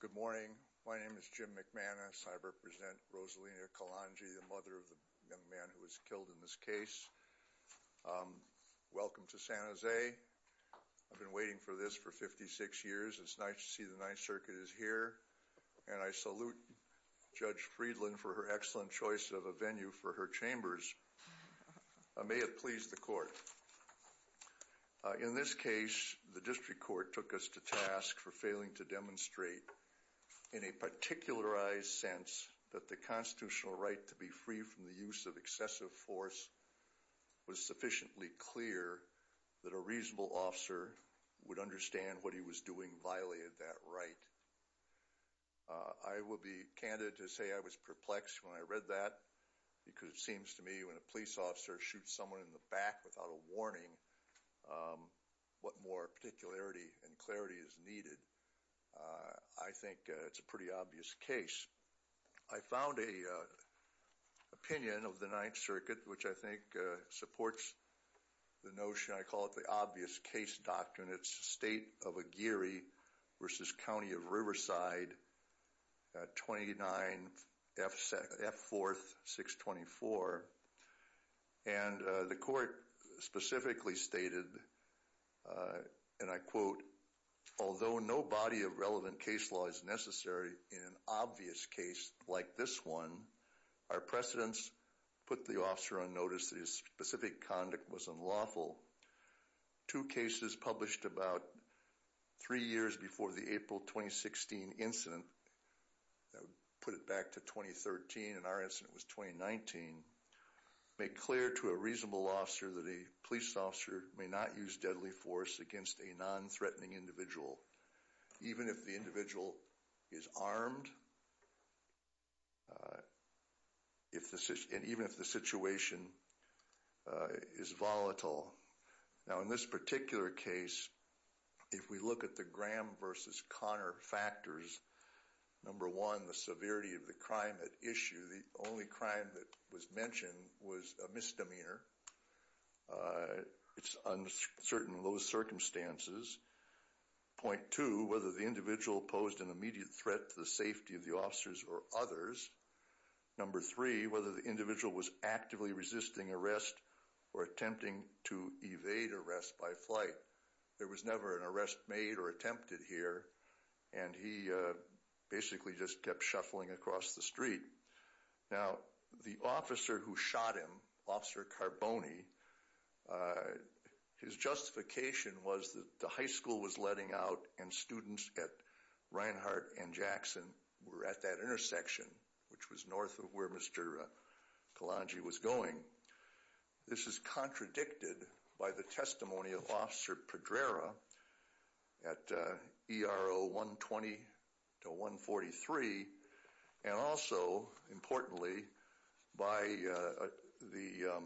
Good morning. My name is Jim McManus. I represent Rosalina Calonge, the mother of the young man who was killed in this case. Welcome to San Jose. I've been waiting for this for 56 years. It's nice to see the Ninth Circuit is here. And I salute Judge Friedland for her excellent choice of a venue for her chambers. May it please the court. In this case, the district court took us to task for failing to demonstrate in a particularized sense that the constitutional right to be free from the use of excessive force was sufficiently clear that a reasonable officer would understand what he was doing violated that right. I will be candid to say I was perplexed when I read that because it seems to me when a police officer shoots someone in the back without a warning what more particularity and clarity is needed. I think it's a pretty obvious case. I found a opinion of the Ninth Circuit, which I think supports the notion I call it the obvious case doctrine. And it's the state of a Geary versus county of Riverside. Twenty nine FF fourth six twenty four. And the court specifically stated, and I quote, although no body of relevant case law is necessary in an obvious case like this one, our precedents put the officer on notice. His specific conduct was unlawful. Two cases published about three years before the April twenty sixteen incident put it back to twenty thirteen. In our instance, it was twenty nineteen. Make clear to a reasonable officer that a police officer may not use deadly force against a nonthreatening individual, even if the individual is armed. If this is and even if the situation is volatile now in this particular case, if we look at the Graham versus Connor factors, number one, the severity of the crime at issue, the only crime that was mentioned was a misdemeanor. It's uncertain in those circumstances. Point two, whether the individual posed an immediate threat to the safety of the officers or others. Number three, whether the individual was actively resisting arrest or attempting to evade arrest by flight. There was never an arrest made or attempted here, and he basically just kept shuffling across the street. Now, the officer who shot him, Officer Carboni, his justification was that the high school was letting out and students at Reinhart and Jackson were at that intersection, which was north of where Mr. Kalonji was going. This is contradicted by the testimony of Officer Pedrera at ERO one twenty to one forty three. And also, importantly, by the.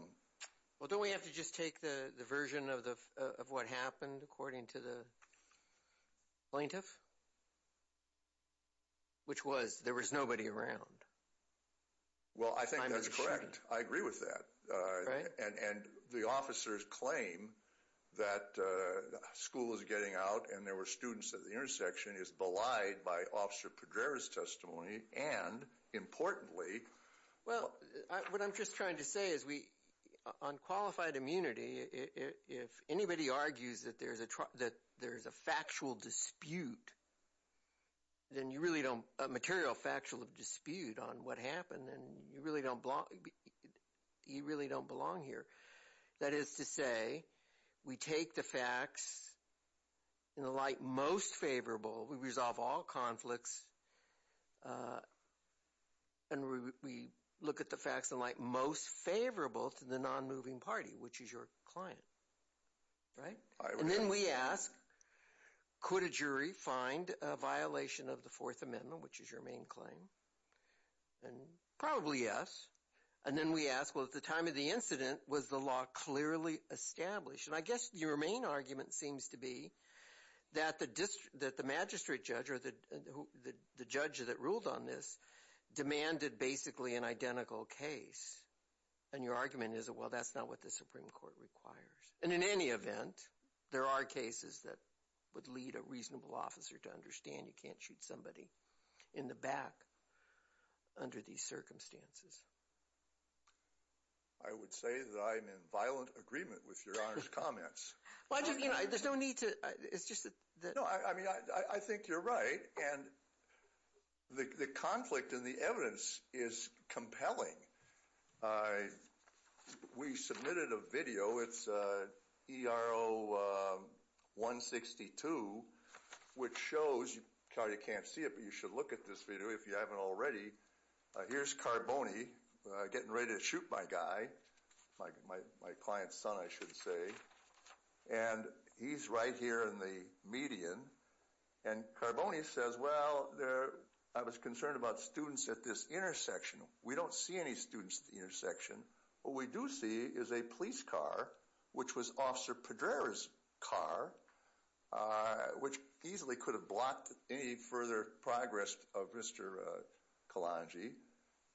Well, don't we have to just take the version of the of what happened according to the plaintiff? Which was there was nobody around. Well, I think that's correct. I agree with that. And the officers claim that school is getting out and there were students at the intersection is belied by Officer Pedrera's testimony. And importantly, well, what I'm just trying to say is we on qualified immunity, if anybody argues that there's a that there's a factual dispute. Then you really don't a material factual dispute on what happened and you really don't belong. You really don't belong here. That is to say, we take the facts in the light most favorable. We resolve all conflicts. And we look at the facts in light most favorable to the non-moving party, which is your client. Right. And then we ask, could a jury find a violation of the Fourth Amendment, which is your main claim? And probably yes. And then we ask, well, at the time of the incident, was the law clearly established? And I guess your main argument seems to be that the district that the magistrate judge or the judge that ruled on this demanded basically an identical case. And your argument is, well, that's not what the Supreme Court requires. And in any event, there are cases that would lead a reasonable officer to understand you can't shoot somebody in the back. Under these circumstances. I would say that I'm in violent agreement with your comments. Well, I just you know, there's no need to. It's just that. I mean, I think you're right. And the conflict in the evidence is compelling. We submitted a video. It's ERO 162, which shows you can't see it, but you should look at this video if you haven't already. Here's Carboni getting ready to shoot my guy, my client's son, I should say. And he's right here in the median. And Carboni says, well, there I was concerned about students at this intersection. We don't see any students at the intersection. What we do see is a police car, which was Officer Pedrera's car, which easily could have blocked any further progress of Mr. Kalonji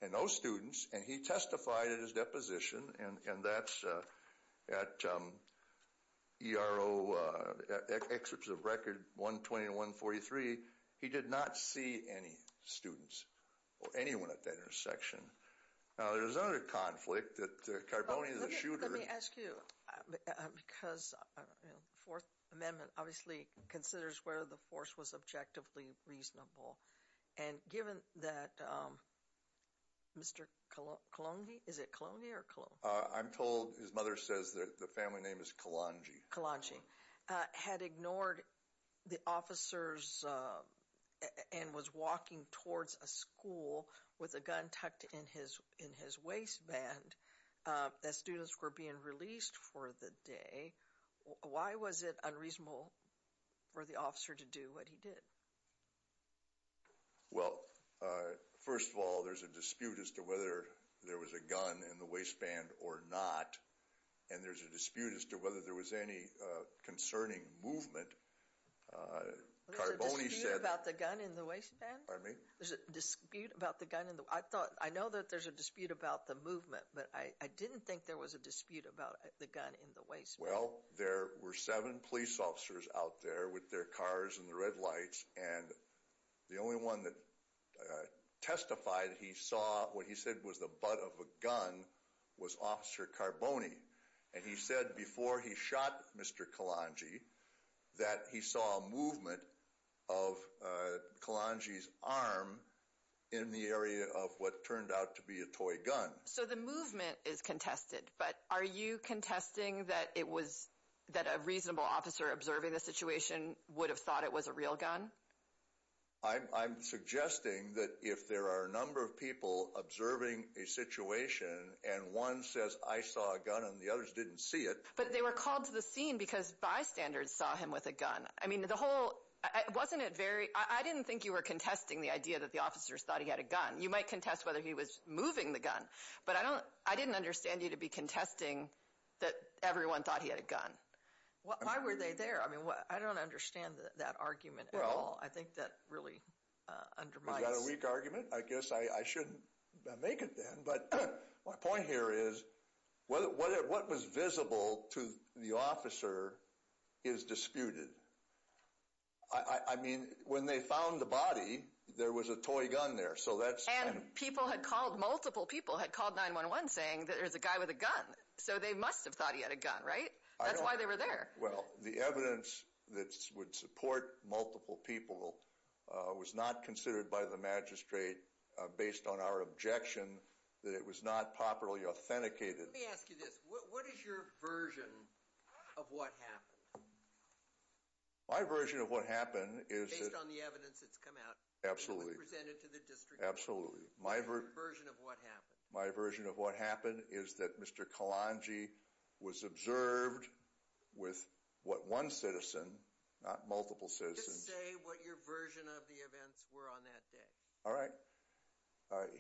and those students. And he testified at his deposition, and that's at ERO excerpts of record 120 and 143. He did not see any students or anyone at that intersection. Now, there's other conflict that Carboni is a shooter. Let me ask you, because the Fourth Amendment obviously considers where the force was objectively reasonable. And given that Mr. Kalonji, is it Kalonji or Kalonji? I'm told his mother says the family name is Kalonji. Kalonji had ignored the officers and was walking towards a school with a gun tucked in his waistband as students were being released for the day. Why was it unreasonable for the officer to do what he did? Well, first of all, there's a dispute as to whether there was a gun in the waistband or not. And there's a dispute as to whether there was any concerning movement. There's a dispute about the gun in the waistband? Pardon me? I know that there's a dispute about the movement, but I didn't think there was a dispute about the gun in the waistband. Well, there were seven police officers out there with their cars and the red lights. And the only one that testified he saw what he said was the butt of a gun was Officer Carboni. And he said before he shot Mr. Kalonji that he saw a movement of Kalonji's arm in the area of what turned out to be a toy gun. So the movement is contested, but are you contesting that a reasonable officer observing the situation would have thought it was a real gun? I'm suggesting that if there are a number of people observing a situation and one says, I saw a gun and the others didn't see it. But they were called to the scene because bystanders saw him with a gun. I didn't think you were contesting the idea that the officers thought he had a gun. You might contest whether he was moving the gun, but I didn't understand you to be contesting that everyone thought he had a gun. Why were they there? I don't understand that argument at all. I think that really undermines... Is that a weak argument? I guess I shouldn't make it then, but my point here is what was visible to the officer is disputed. I mean, when they found the body, there was a toy gun there, so that's... And people had called, multiple people had called 9-1-1 saying that there's a guy with a gun, so they must have thought he had a gun, right? That's why they were there. Well, the evidence that would support multiple people was not considered by the magistrate based on our objection that it was not properly authenticated. Let me ask you this. What is your version of what happened? My version of what happened is that... Based on the evidence that's come out? Absolutely. It was presented to the district? Absolutely. What is your version of what happened? My version of what happened is that Mr. Kalonji was observed with what one citizen, not multiple citizens... Just say what your version of the events were on that day. All right.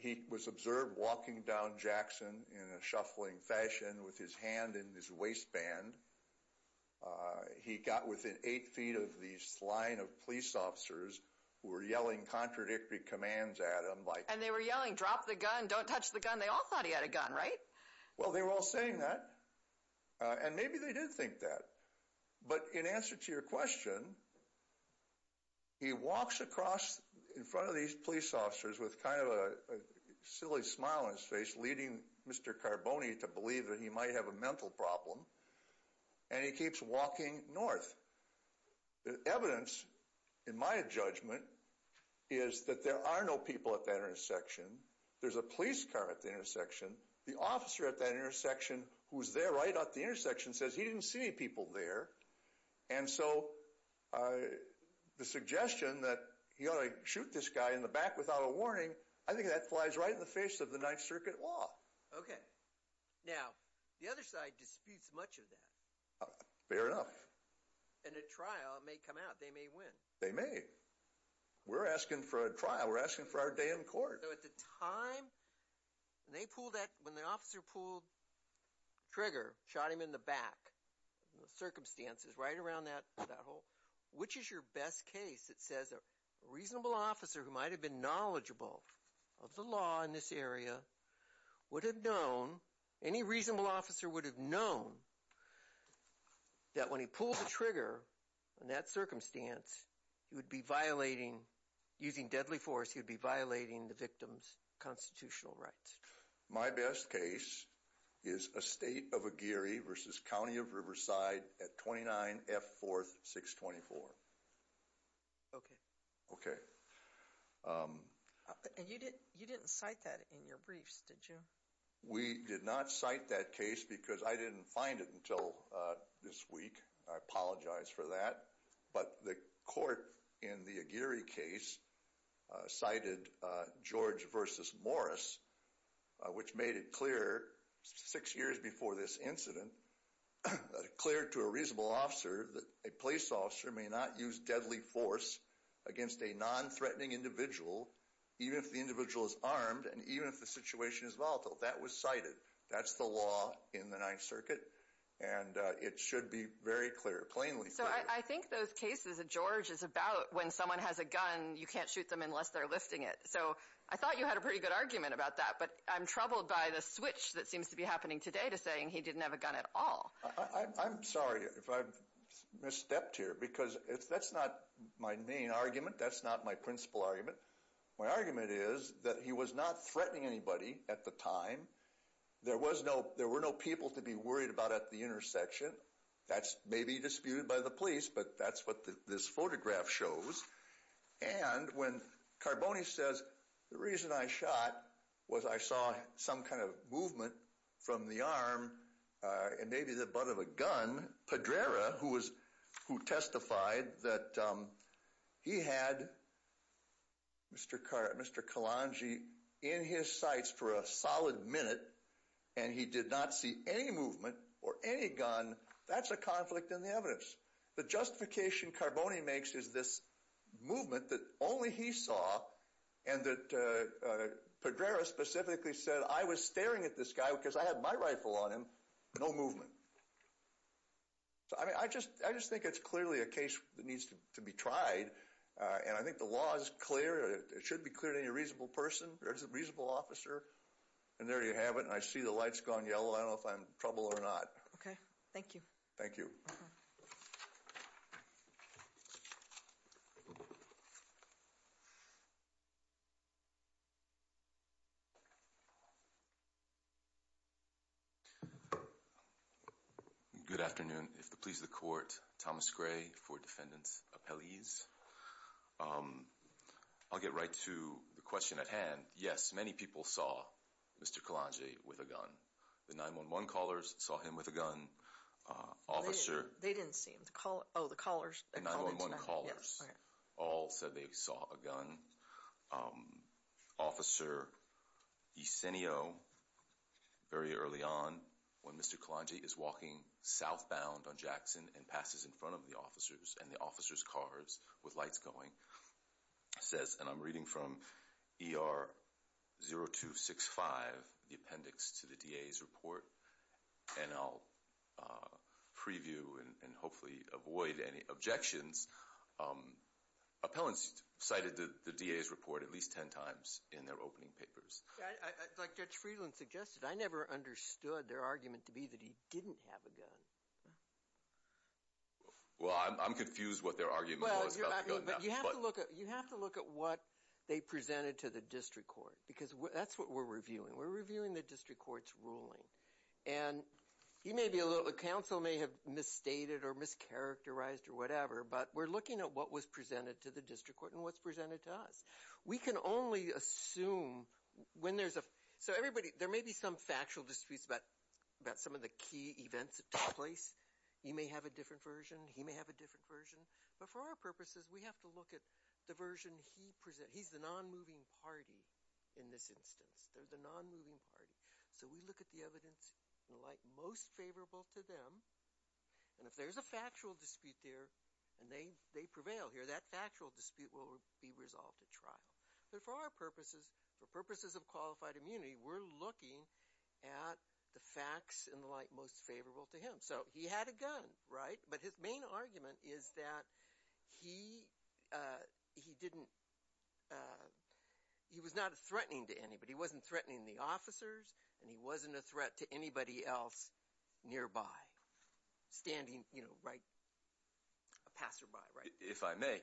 He was observed walking down Jackson in a shuffling fashion with his hand in his waistband. He got within eight feet of this line of police officers who were yelling contradictory commands at him like... And they were yelling, drop the gun, don't touch the gun. They all thought he had a gun, right? Well, they were all saying that. And maybe they did think that. But in answer to your question, he walks across in front of these police officers with kind of a silly smile on his face leading Mr. Carboni to believe that he might have a mental problem. And he keeps walking north. The evidence, in my judgment, is that there are no people at that intersection. There's a police car at the intersection. The officer at that intersection who was there right at the intersection says he didn't see any people there. And so the suggestion that he ought to shoot this guy in the back without a warning, I think that flies right in the face of the Ninth Circuit law. Okay. Now, the other side disputes much of that. Fair enough. And a trial may come out. They may win. They may. We're asking for a trial. We're asking for our day in court. So at the time they pulled that, when the officer pulled the trigger, shot him in the back, the circumstances right around that hole. Which is your best case that says a reasonable officer who might have been knowledgeable of the law in this area would have known, any reasonable officer would have known, that when he pulled the trigger in that circumstance, he would be violating, using deadly force, he would be violating the victim. The victim's constitutional rights. My best case is a state of Aguirre versus County of Riverside at 29F 4th 624. Okay. Okay. You didn't cite that in your briefs, did you? We did not cite that case because I didn't find it until this week. I apologize for that. But the court in the Aguirre case cited George versus Morris, which made it clear six years before this incident, declared to a reasonable officer that a police officer may not use deadly force against a non-threatening individual, even if the individual is armed and even if the situation is volatile. That was cited. That's the law in the Ninth Circuit. And it should be very clear, plainly clear. So I think those cases that George is about when someone has a gun, you can't shoot them unless they're lifting it. So I thought you had a pretty good argument about that. But I'm troubled by the switch that seems to be happening today to saying he didn't have a gun at all. I'm sorry if I've misstepped here because that's not my main argument. That's not my principal argument. My argument is that he was not threatening anybody at the time. There were no people to be worried about at the intersection. That's maybe disputed by the police, but that's what this photograph shows. And when Carboni says, the reason I shot was I saw some kind of movement from the arm and maybe the butt of a gun, Pedrera, who testified that he had Mr. Calangi in his sights for a solid minute and he did not see any movement or any gun, that's a conflict in the evidence. The justification Carboni makes is this movement that only he saw and that Pedrera specifically said, I was staring at this guy because I had my rifle on him. No movement. So, I mean, I just think it's clearly a case that needs to be tried. And I think the law is clear. It should be clear to any reasonable person or a reasonable officer. And there you have it. And I see the light's gone yellow. I don't know if I'm in trouble or not. Okay. Thank you. Thank you. Thank you. Good afternoon. If it pleases the court, Thomas Gray for defendant's appellees. I'll get right to the question at hand. Yes, many people saw Mr. Calangi with a gun. The 911 callers saw him with a gun. Officer. They didn't see him. Oh, the callers. The 911 callers. Yes. All said they saw a gun. Officer Ysenio, very early on when Mr. Calangi is walking southbound on Jackson and passes in front of the officers and the officers' cars with lights going, says, and I'm reading from ER 0265, the appendix to the DA's report, and I'll preview and hopefully avoid any objections. Appellants cited the DA's report at least 10 times in their opening papers. Like Judge Friedland suggested, I never understood their argument to be that he didn't have a gun. Well, I'm confused what their argument was about the gun. You have to look at what they presented to the district court because that's what we're reviewing. We're reviewing the district court's ruling. And counsel may have misstated or mischaracterized or whatever, but we're looking at what was presented to the district court and what's presented to us. We can only assume when there's a – so everybody, there may be some factual disputes about some of the key events that took place. You may have a different version. He may have a different version. But for our purposes, we have to look at the version he presented. He's the non-moving party in this instance. They're the non-moving party. So we look at the evidence in the light most favorable to them. And if there's a factual dispute there and they prevail here, that factual dispute will be resolved at trial. But for our purposes, for purposes of qualified immunity, we're looking at the facts in the light most favorable to him. So he had a gun, right? But his main argument is that he didn't – he was not threatening to anybody. He wasn't threatening the officers, and he wasn't a threat to anybody else nearby, standing, you know, right – a passerby, right? If I may,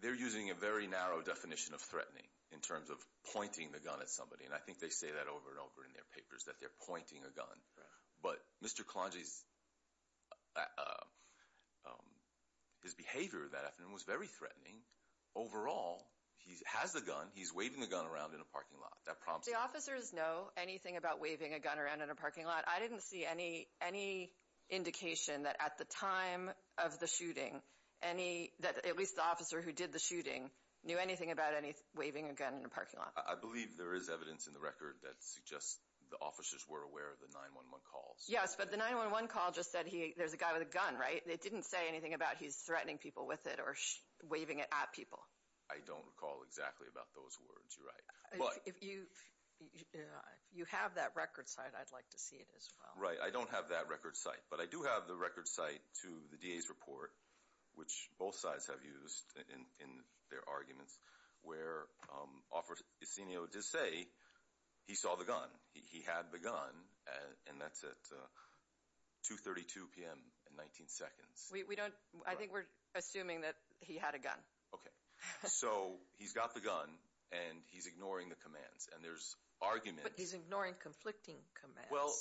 they're using a very narrow definition of threatening in terms of pointing the gun at somebody. And I think they say that over and over in their papers, that they're pointing a gun. But Mr. Kalonji's behavior that afternoon was very threatening. Overall, he has a gun. He's waving the gun around in a parking lot. The officers know anything about waving a gun around in a parking lot. I didn't see any indication that at the time of the shooting, that at least the officer who did the shooting knew anything about waving a gun in a parking lot. I believe there is evidence in the record that suggests the officers were aware of the 911 calls. Yes, but the 911 call just said there's a guy with a gun, right? It didn't say anything about he's threatening people with it or waving it at people. I don't recall exactly about those words. You're right. If you have that record site, I'd like to see it as well. Right. I don't have that record site. But I do have the record site to the DA's report, which both sides have used in their arguments, where Officer Esenio did say he saw the gun. He had the gun, and that's at 2.32 p.m. and 19 seconds. I think we're assuming that he had a gun. Okay. So he's got the gun, and he's ignoring the commands, and there's arguments. But he's ignoring conflicting commands. Well,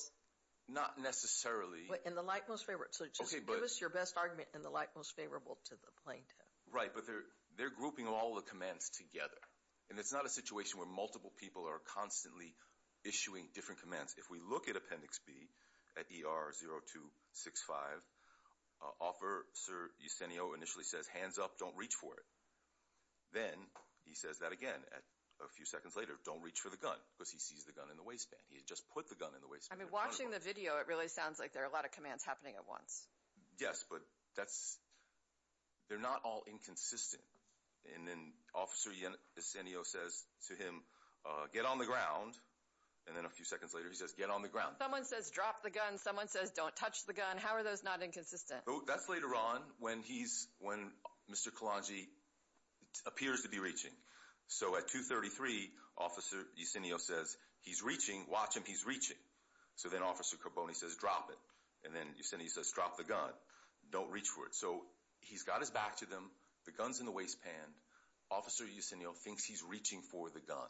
not necessarily. And the like most favorable. So just give us your best argument and the like most favorable to the plaintiff. Right, but they're grouping all the commands together, and it's not a situation where multiple people are constantly issuing different commands. If we look at Appendix B at ER 0265, Officer Esenio initially says, hands up, don't reach for it. Then he says that again a few seconds later, don't reach for the gun, because he sees the gun in the waistband. He had just put the gun in the waistband. I mean, watching the video, it really sounds like there are a lot of commands happening at once. Yes, but they're not all inconsistent. And then Officer Esenio says to him, get on the ground, and then a few seconds later, Someone says, drop the gun. Someone says, don't touch the gun. How are those not inconsistent? That's later on when he's, when Mr. Kalonji appears to be reaching. So at 233, Officer Esenio says, he's reaching, watch him, he's reaching. So then Officer Carboni says, drop it. And then Esenio says, drop the gun. Don't reach for it. So he's got his back to them. The gun's in the waistband. Officer Esenio thinks he's reaching for the gun.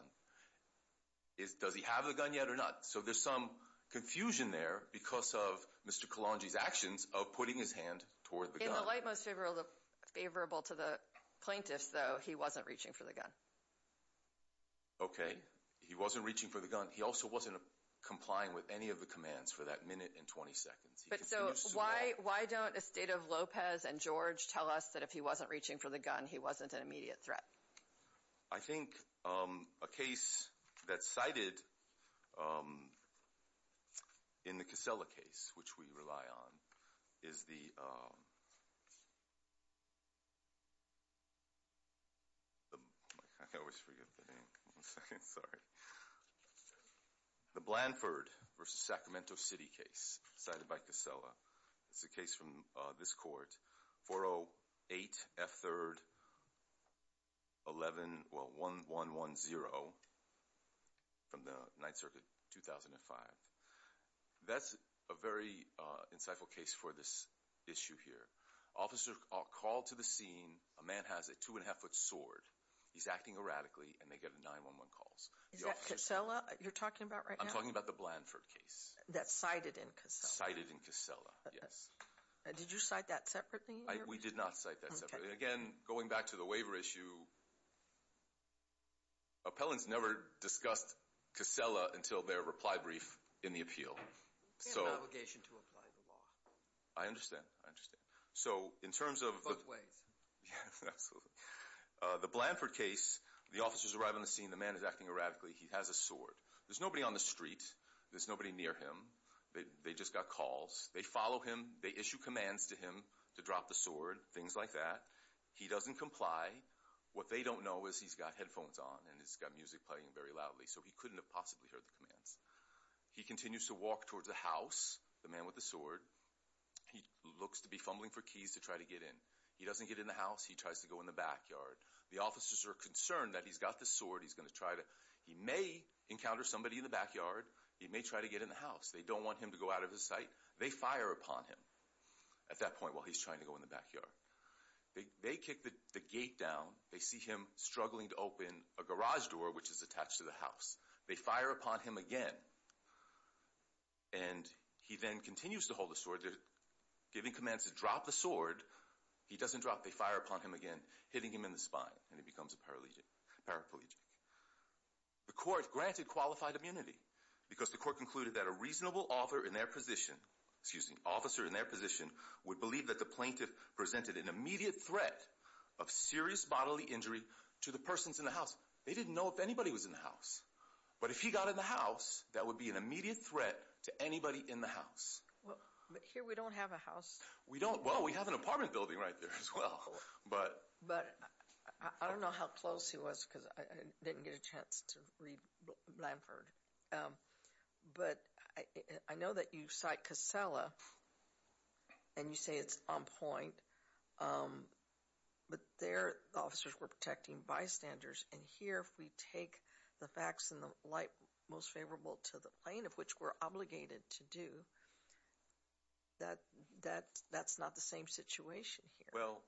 Does he have the gun yet or not? So there's some confusion there because of Mr. Kalonji's actions of putting his hand toward the gun. In the light most favorable to the plaintiffs, though, he wasn't reaching for the gun. Okay, he wasn't reaching for the gun. He also wasn't complying with any of the commands for that minute and 20 seconds. So why don't Esteta, Lopez, and George tell us that if he wasn't reaching for the gun, he wasn't an immediate threat? I think a case that's cited in the Casella case, which we rely on, is the... I always forget the name. One second, sorry. The Blanford v. Sacramento City case, cited by Casella. It's a case from this court. 408 F. 3rd 1110 4-0 from the 9th Circuit, 2005. That's a very insightful case for this issue here. Officers are called to the scene. A man has a two-and-a-half-foot sword. He's acting erratically, and they get 9-1-1 calls. Is that Casella you're talking about right now? I'm talking about the Blanford case. That's cited in Casella? Cited in Casella, yes. Did you cite that separately? We did not cite that separately. Again, going back to the waiver issue, Collins never discussed Casella until their reply brief in the appeal. He had an obligation to apply the law. I understand, I understand. So in terms of... Both ways. Yes, absolutely. The Blanford case, the officers arrive on the scene. The man is acting erratically. He has a sword. There's nobody on the street. There's nobody near him. They just got calls. They follow him. They issue commands to him to drop the sword, things like that. He doesn't comply. What they don't know is he's got headphones on and he's got music playing very loudly, so he couldn't have possibly heard the commands. He continues to walk towards the house, the man with the sword. He looks to be fumbling for keys to try to get in. He doesn't get in the house. He tries to go in the backyard. The officers are concerned that he's got the sword. He's going to try to... He may encounter somebody in the backyard. He may try to get in the house. They don't want him to go out of his sight. They fire upon him at that point while he's trying to go in the backyard. They kick the gate down. They see him struggling to open a garage door, which is attached to the house. They fire upon him again, and he then continues to hold the sword. They're giving commands to drop the sword. He doesn't drop. They fire upon him again, hitting him in the spine, and he becomes a paraplegic. The court granted qualified immunity because the court concluded that a reasonable officer in their position would believe that the plaintiff presented an immediate threat of serious bodily injury to the persons in the house. They didn't know if anybody was in the house. But if he got in the house, that would be an immediate threat to anybody in the house. But here we don't have a house. Well, we have an apartment building right there as well. But I don't know how close he was because I didn't get a chance to read Blanford. But I know that you cite Casella, and you say it's on point. But there the officers were protecting bystanders. And here if we take the facts in the light most favorable to the plaintiff, which we're obligated to do, that's not the same situation here. Well,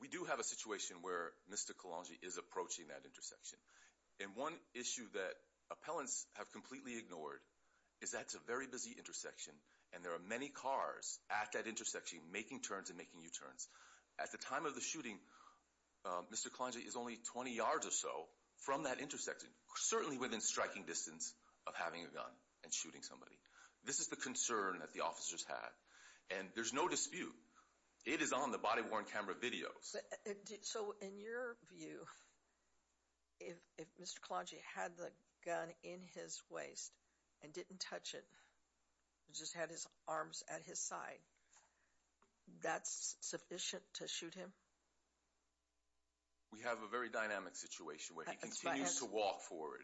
we do have a situation where Mr. Kalonji is approaching that intersection. And one issue that appellants have completely ignored is that it's a very busy intersection, and there are many cars at that intersection making turns and making U-turns. At the time of the shooting, Mr. Kalonji is only 20 yards or so from that intersection, certainly within striking distance of having a gun and shooting somebody. This is the concern that the officers had. And there's no dispute. It is on the body-worn camera videos. So in your view, if Mr. Kalonji had the gun in his waist, and didn't touch it, just had his arms at his side, that's sufficient to shoot him? We have a very dynamic situation where he continues to walk forward.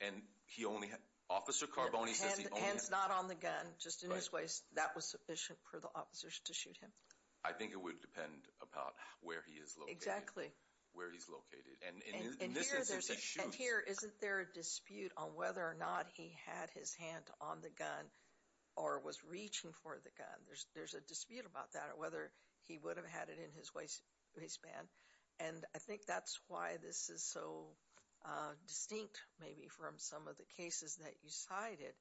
And he only had... Officer Carboni says he only had... Hands not on the gun, just in his waist. That was sufficient for the officers to shoot him. I think it would depend about where he is located. Exactly. Where he's located. And in this instance, he shoots. Here, isn't there a dispute on whether or not he had his hand on the gun or was reaching for the gun? There's a dispute about that, or whether he would have had it in his waistband. And I think that's why this is so distinct, maybe, from some of the cases that you cited.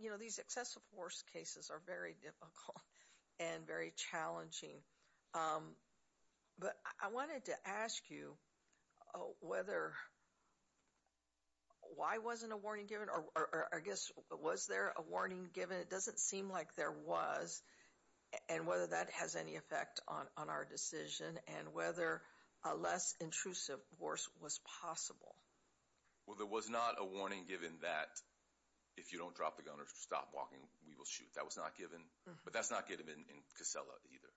You know, these excessive force cases are very difficult and very challenging. But I wanted to ask you whether... Why wasn't a warning given? Or I guess, was there a warning given? It doesn't seem like there was. And whether that has any effect on our decision, and whether a less intrusive force was possible. Well, there was not a warning given that if you don't drop the gun or stop walking, we will shoot. That was not given. But that's not given in Casella either.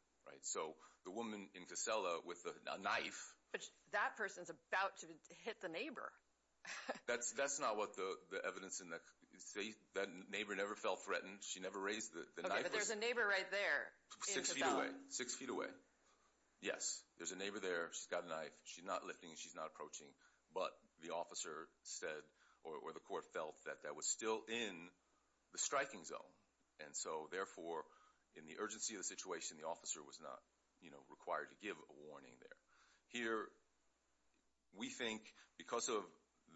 So the woman in Casella with a knife... But that person's about to hit the neighbor. That's not what the evidence... That neighbor never felt threatened. She never raised the knife. Okay, but there's a neighbor right there. Six feet away. Six feet away. Yes, there's a neighbor there. She's got a knife. She's not lifting. She's not approaching. But the officer said, or the court felt, that that was still in the striking zone. And so, therefore, in the urgency of the situation, the officer was not required to give a warning there. Here, we think because of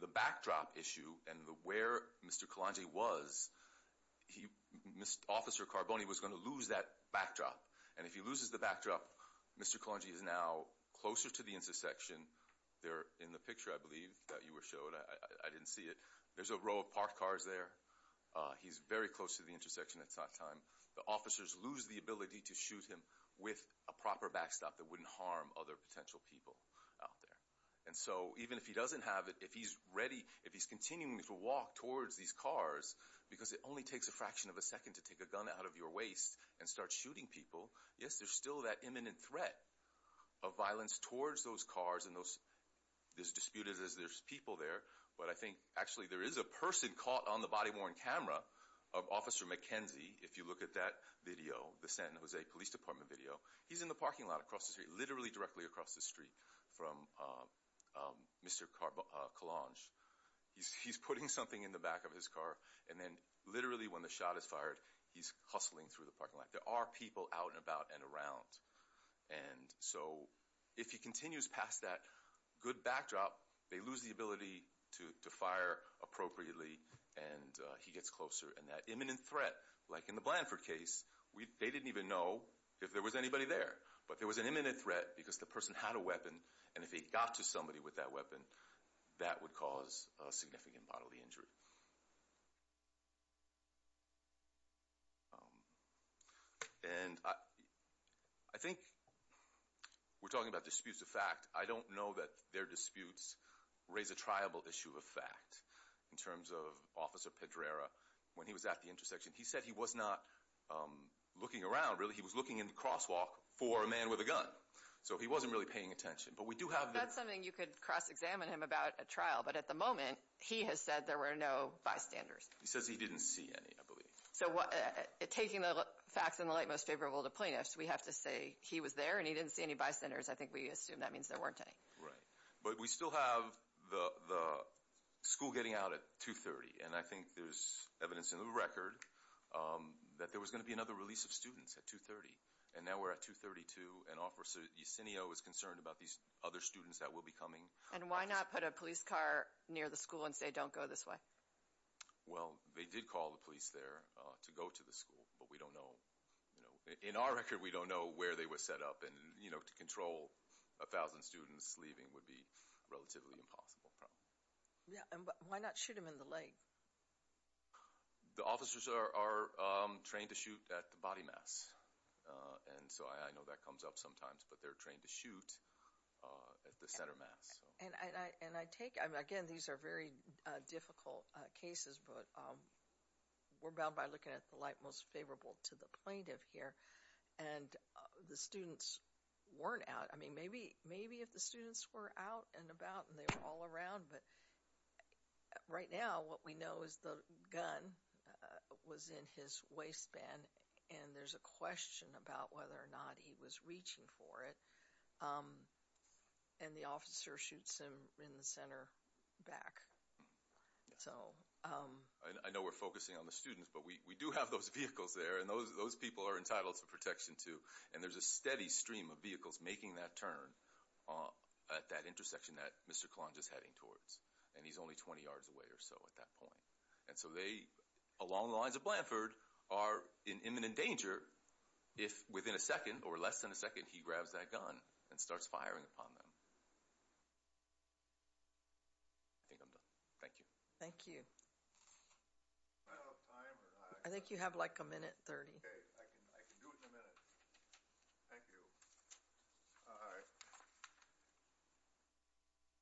the backdrop issue and where Mr. Kalonji was, Officer Carboni was going to lose that backdrop. And if he loses the backdrop, Mr. Kalonji is now closer to the intersection. They're in the picture, I believe, that you were shown. I didn't see it. There's a row of parked cars there. He's very close to the intersection. It's not time. The officers lose the ability to shoot him with a proper backstop that wouldn't harm other potential people out there. And so, even if he doesn't have it, if he's ready, if he's continuing to walk towards these cars, because it only takes a fraction of a second to take a gun out of your waist and start shooting people, yes, there's still that imminent threat of violence towards those cars and those disputed as there's people there. But I think, actually, there is a person caught on the body-worn camera of Officer McKenzie, if you look at that video, the San Jose Police Department video. He's in the parking lot across the street, literally directly across the street, from Mr. Kalonji. He's putting something in the back of his car, and then, literally, when the shot is fired, he's hustling through the parking lot. There are people out and about and around. And so, if he continues past that good backdrop, they lose the ability to fire appropriately, and he gets closer. And that imminent threat, like in the Blanford case, they didn't even know if there was anybody there. But there was an imminent threat because the person had a weapon, and if he got to somebody with that weapon, that would cause a significant bodily injury. And I think we're talking about disputes of fact. I don't know that their disputes raise a triable issue of fact. In terms of Officer Pedrera, when he was at the intersection, he said he was not looking around, really. He was looking in the crosswalk for a man with a gun. So he wasn't really paying attention. But we do have the... That's something you could cross-examine him about at trial. But at the moment, he has said there were no bystanders. He says he didn't see any, I believe. So taking the facts in the light most favorable to plaintiffs, we have to say he was there, and he didn't see any bystanders. I think we assume that means there weren't any. Right. But we still have the school getting out at 2.30, and I think there's evidence in the record that there was going to be another release of students at 2.30. And now we're at 2.32, and Officer Yacineo is concerned about these other students that will be coming. And why not put a police car near the school and say, don't go this way? Well, they did call the police there to go to the school, but we don't know. In our record, we don't know where they were set up and, you know, to control 1,000 students leaving would be a relatively impossible problem. Yeah, and why not shoot them in the leg? The officers are trained to shoot at the body mass, and so I know that comes up sometimes, but they're trained to shoot at the center mass. And I take it. Again, these are very difficult cases, but we're bound by looking at the light most favorable to the plaintiff here. And the students weren't out. I mean, maybe if the students were out and about and they were all around, but right now what we know is the gun was in his waistband, and there's a question about whether or not he was reaching for it, and the officer shoots him in the center back. So... I know we're focusing on the students, but we do have those vehicles there, and those people are entitled to protection, too, and there's a steady stream of vehicles making that turn at that intersection that Mr. Colonge is heading towards, and he's only 20 yards away or so at that point. And so they, along the lines of Blanford, are in imminent danger if within a second or less than a second he grabs that gun and starts firing upon them. I think I'm done. Thank you. Thank you. Am I out of time or not? I think you have like a minute 30. Okay. I can do it in a minute. Thank you. All right.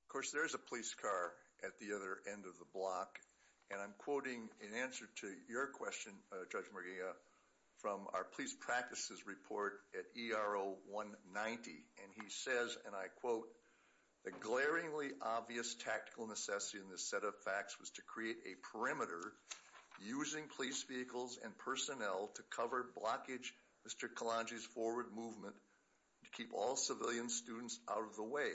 Of course, there is a police car at the other end of the block, and I'm quoting in answer to your question, Judge Murgia, from our police practices report at ERO 190, and he says, and I quote, The glaringly obvious tactical necessity in this set of facts was to create a perimeter using police vehicles and personnel to cover blockage Mr. Colonge's forward movement to keep all civilian students out of the way.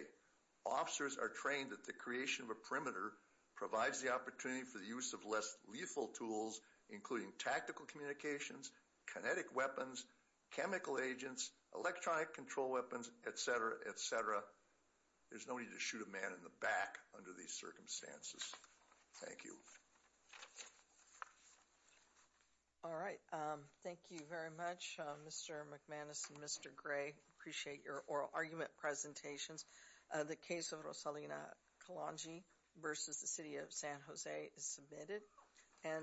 Officers are trained that the creation of a perimeter provides the opportunity for the use of less lethal tools, including tactical communications, kinetic weapons, chemical agents, electronic control weapons, et cetera, et cetera. There's no need to shoot a man in the back under these circumstances. Thank you. All right. Thank you very much, Mr. McManus and Mr. Gray. Appreciate your oral argument presentations. The case of Rosalina Colonge versus the city of San Jose is submitted.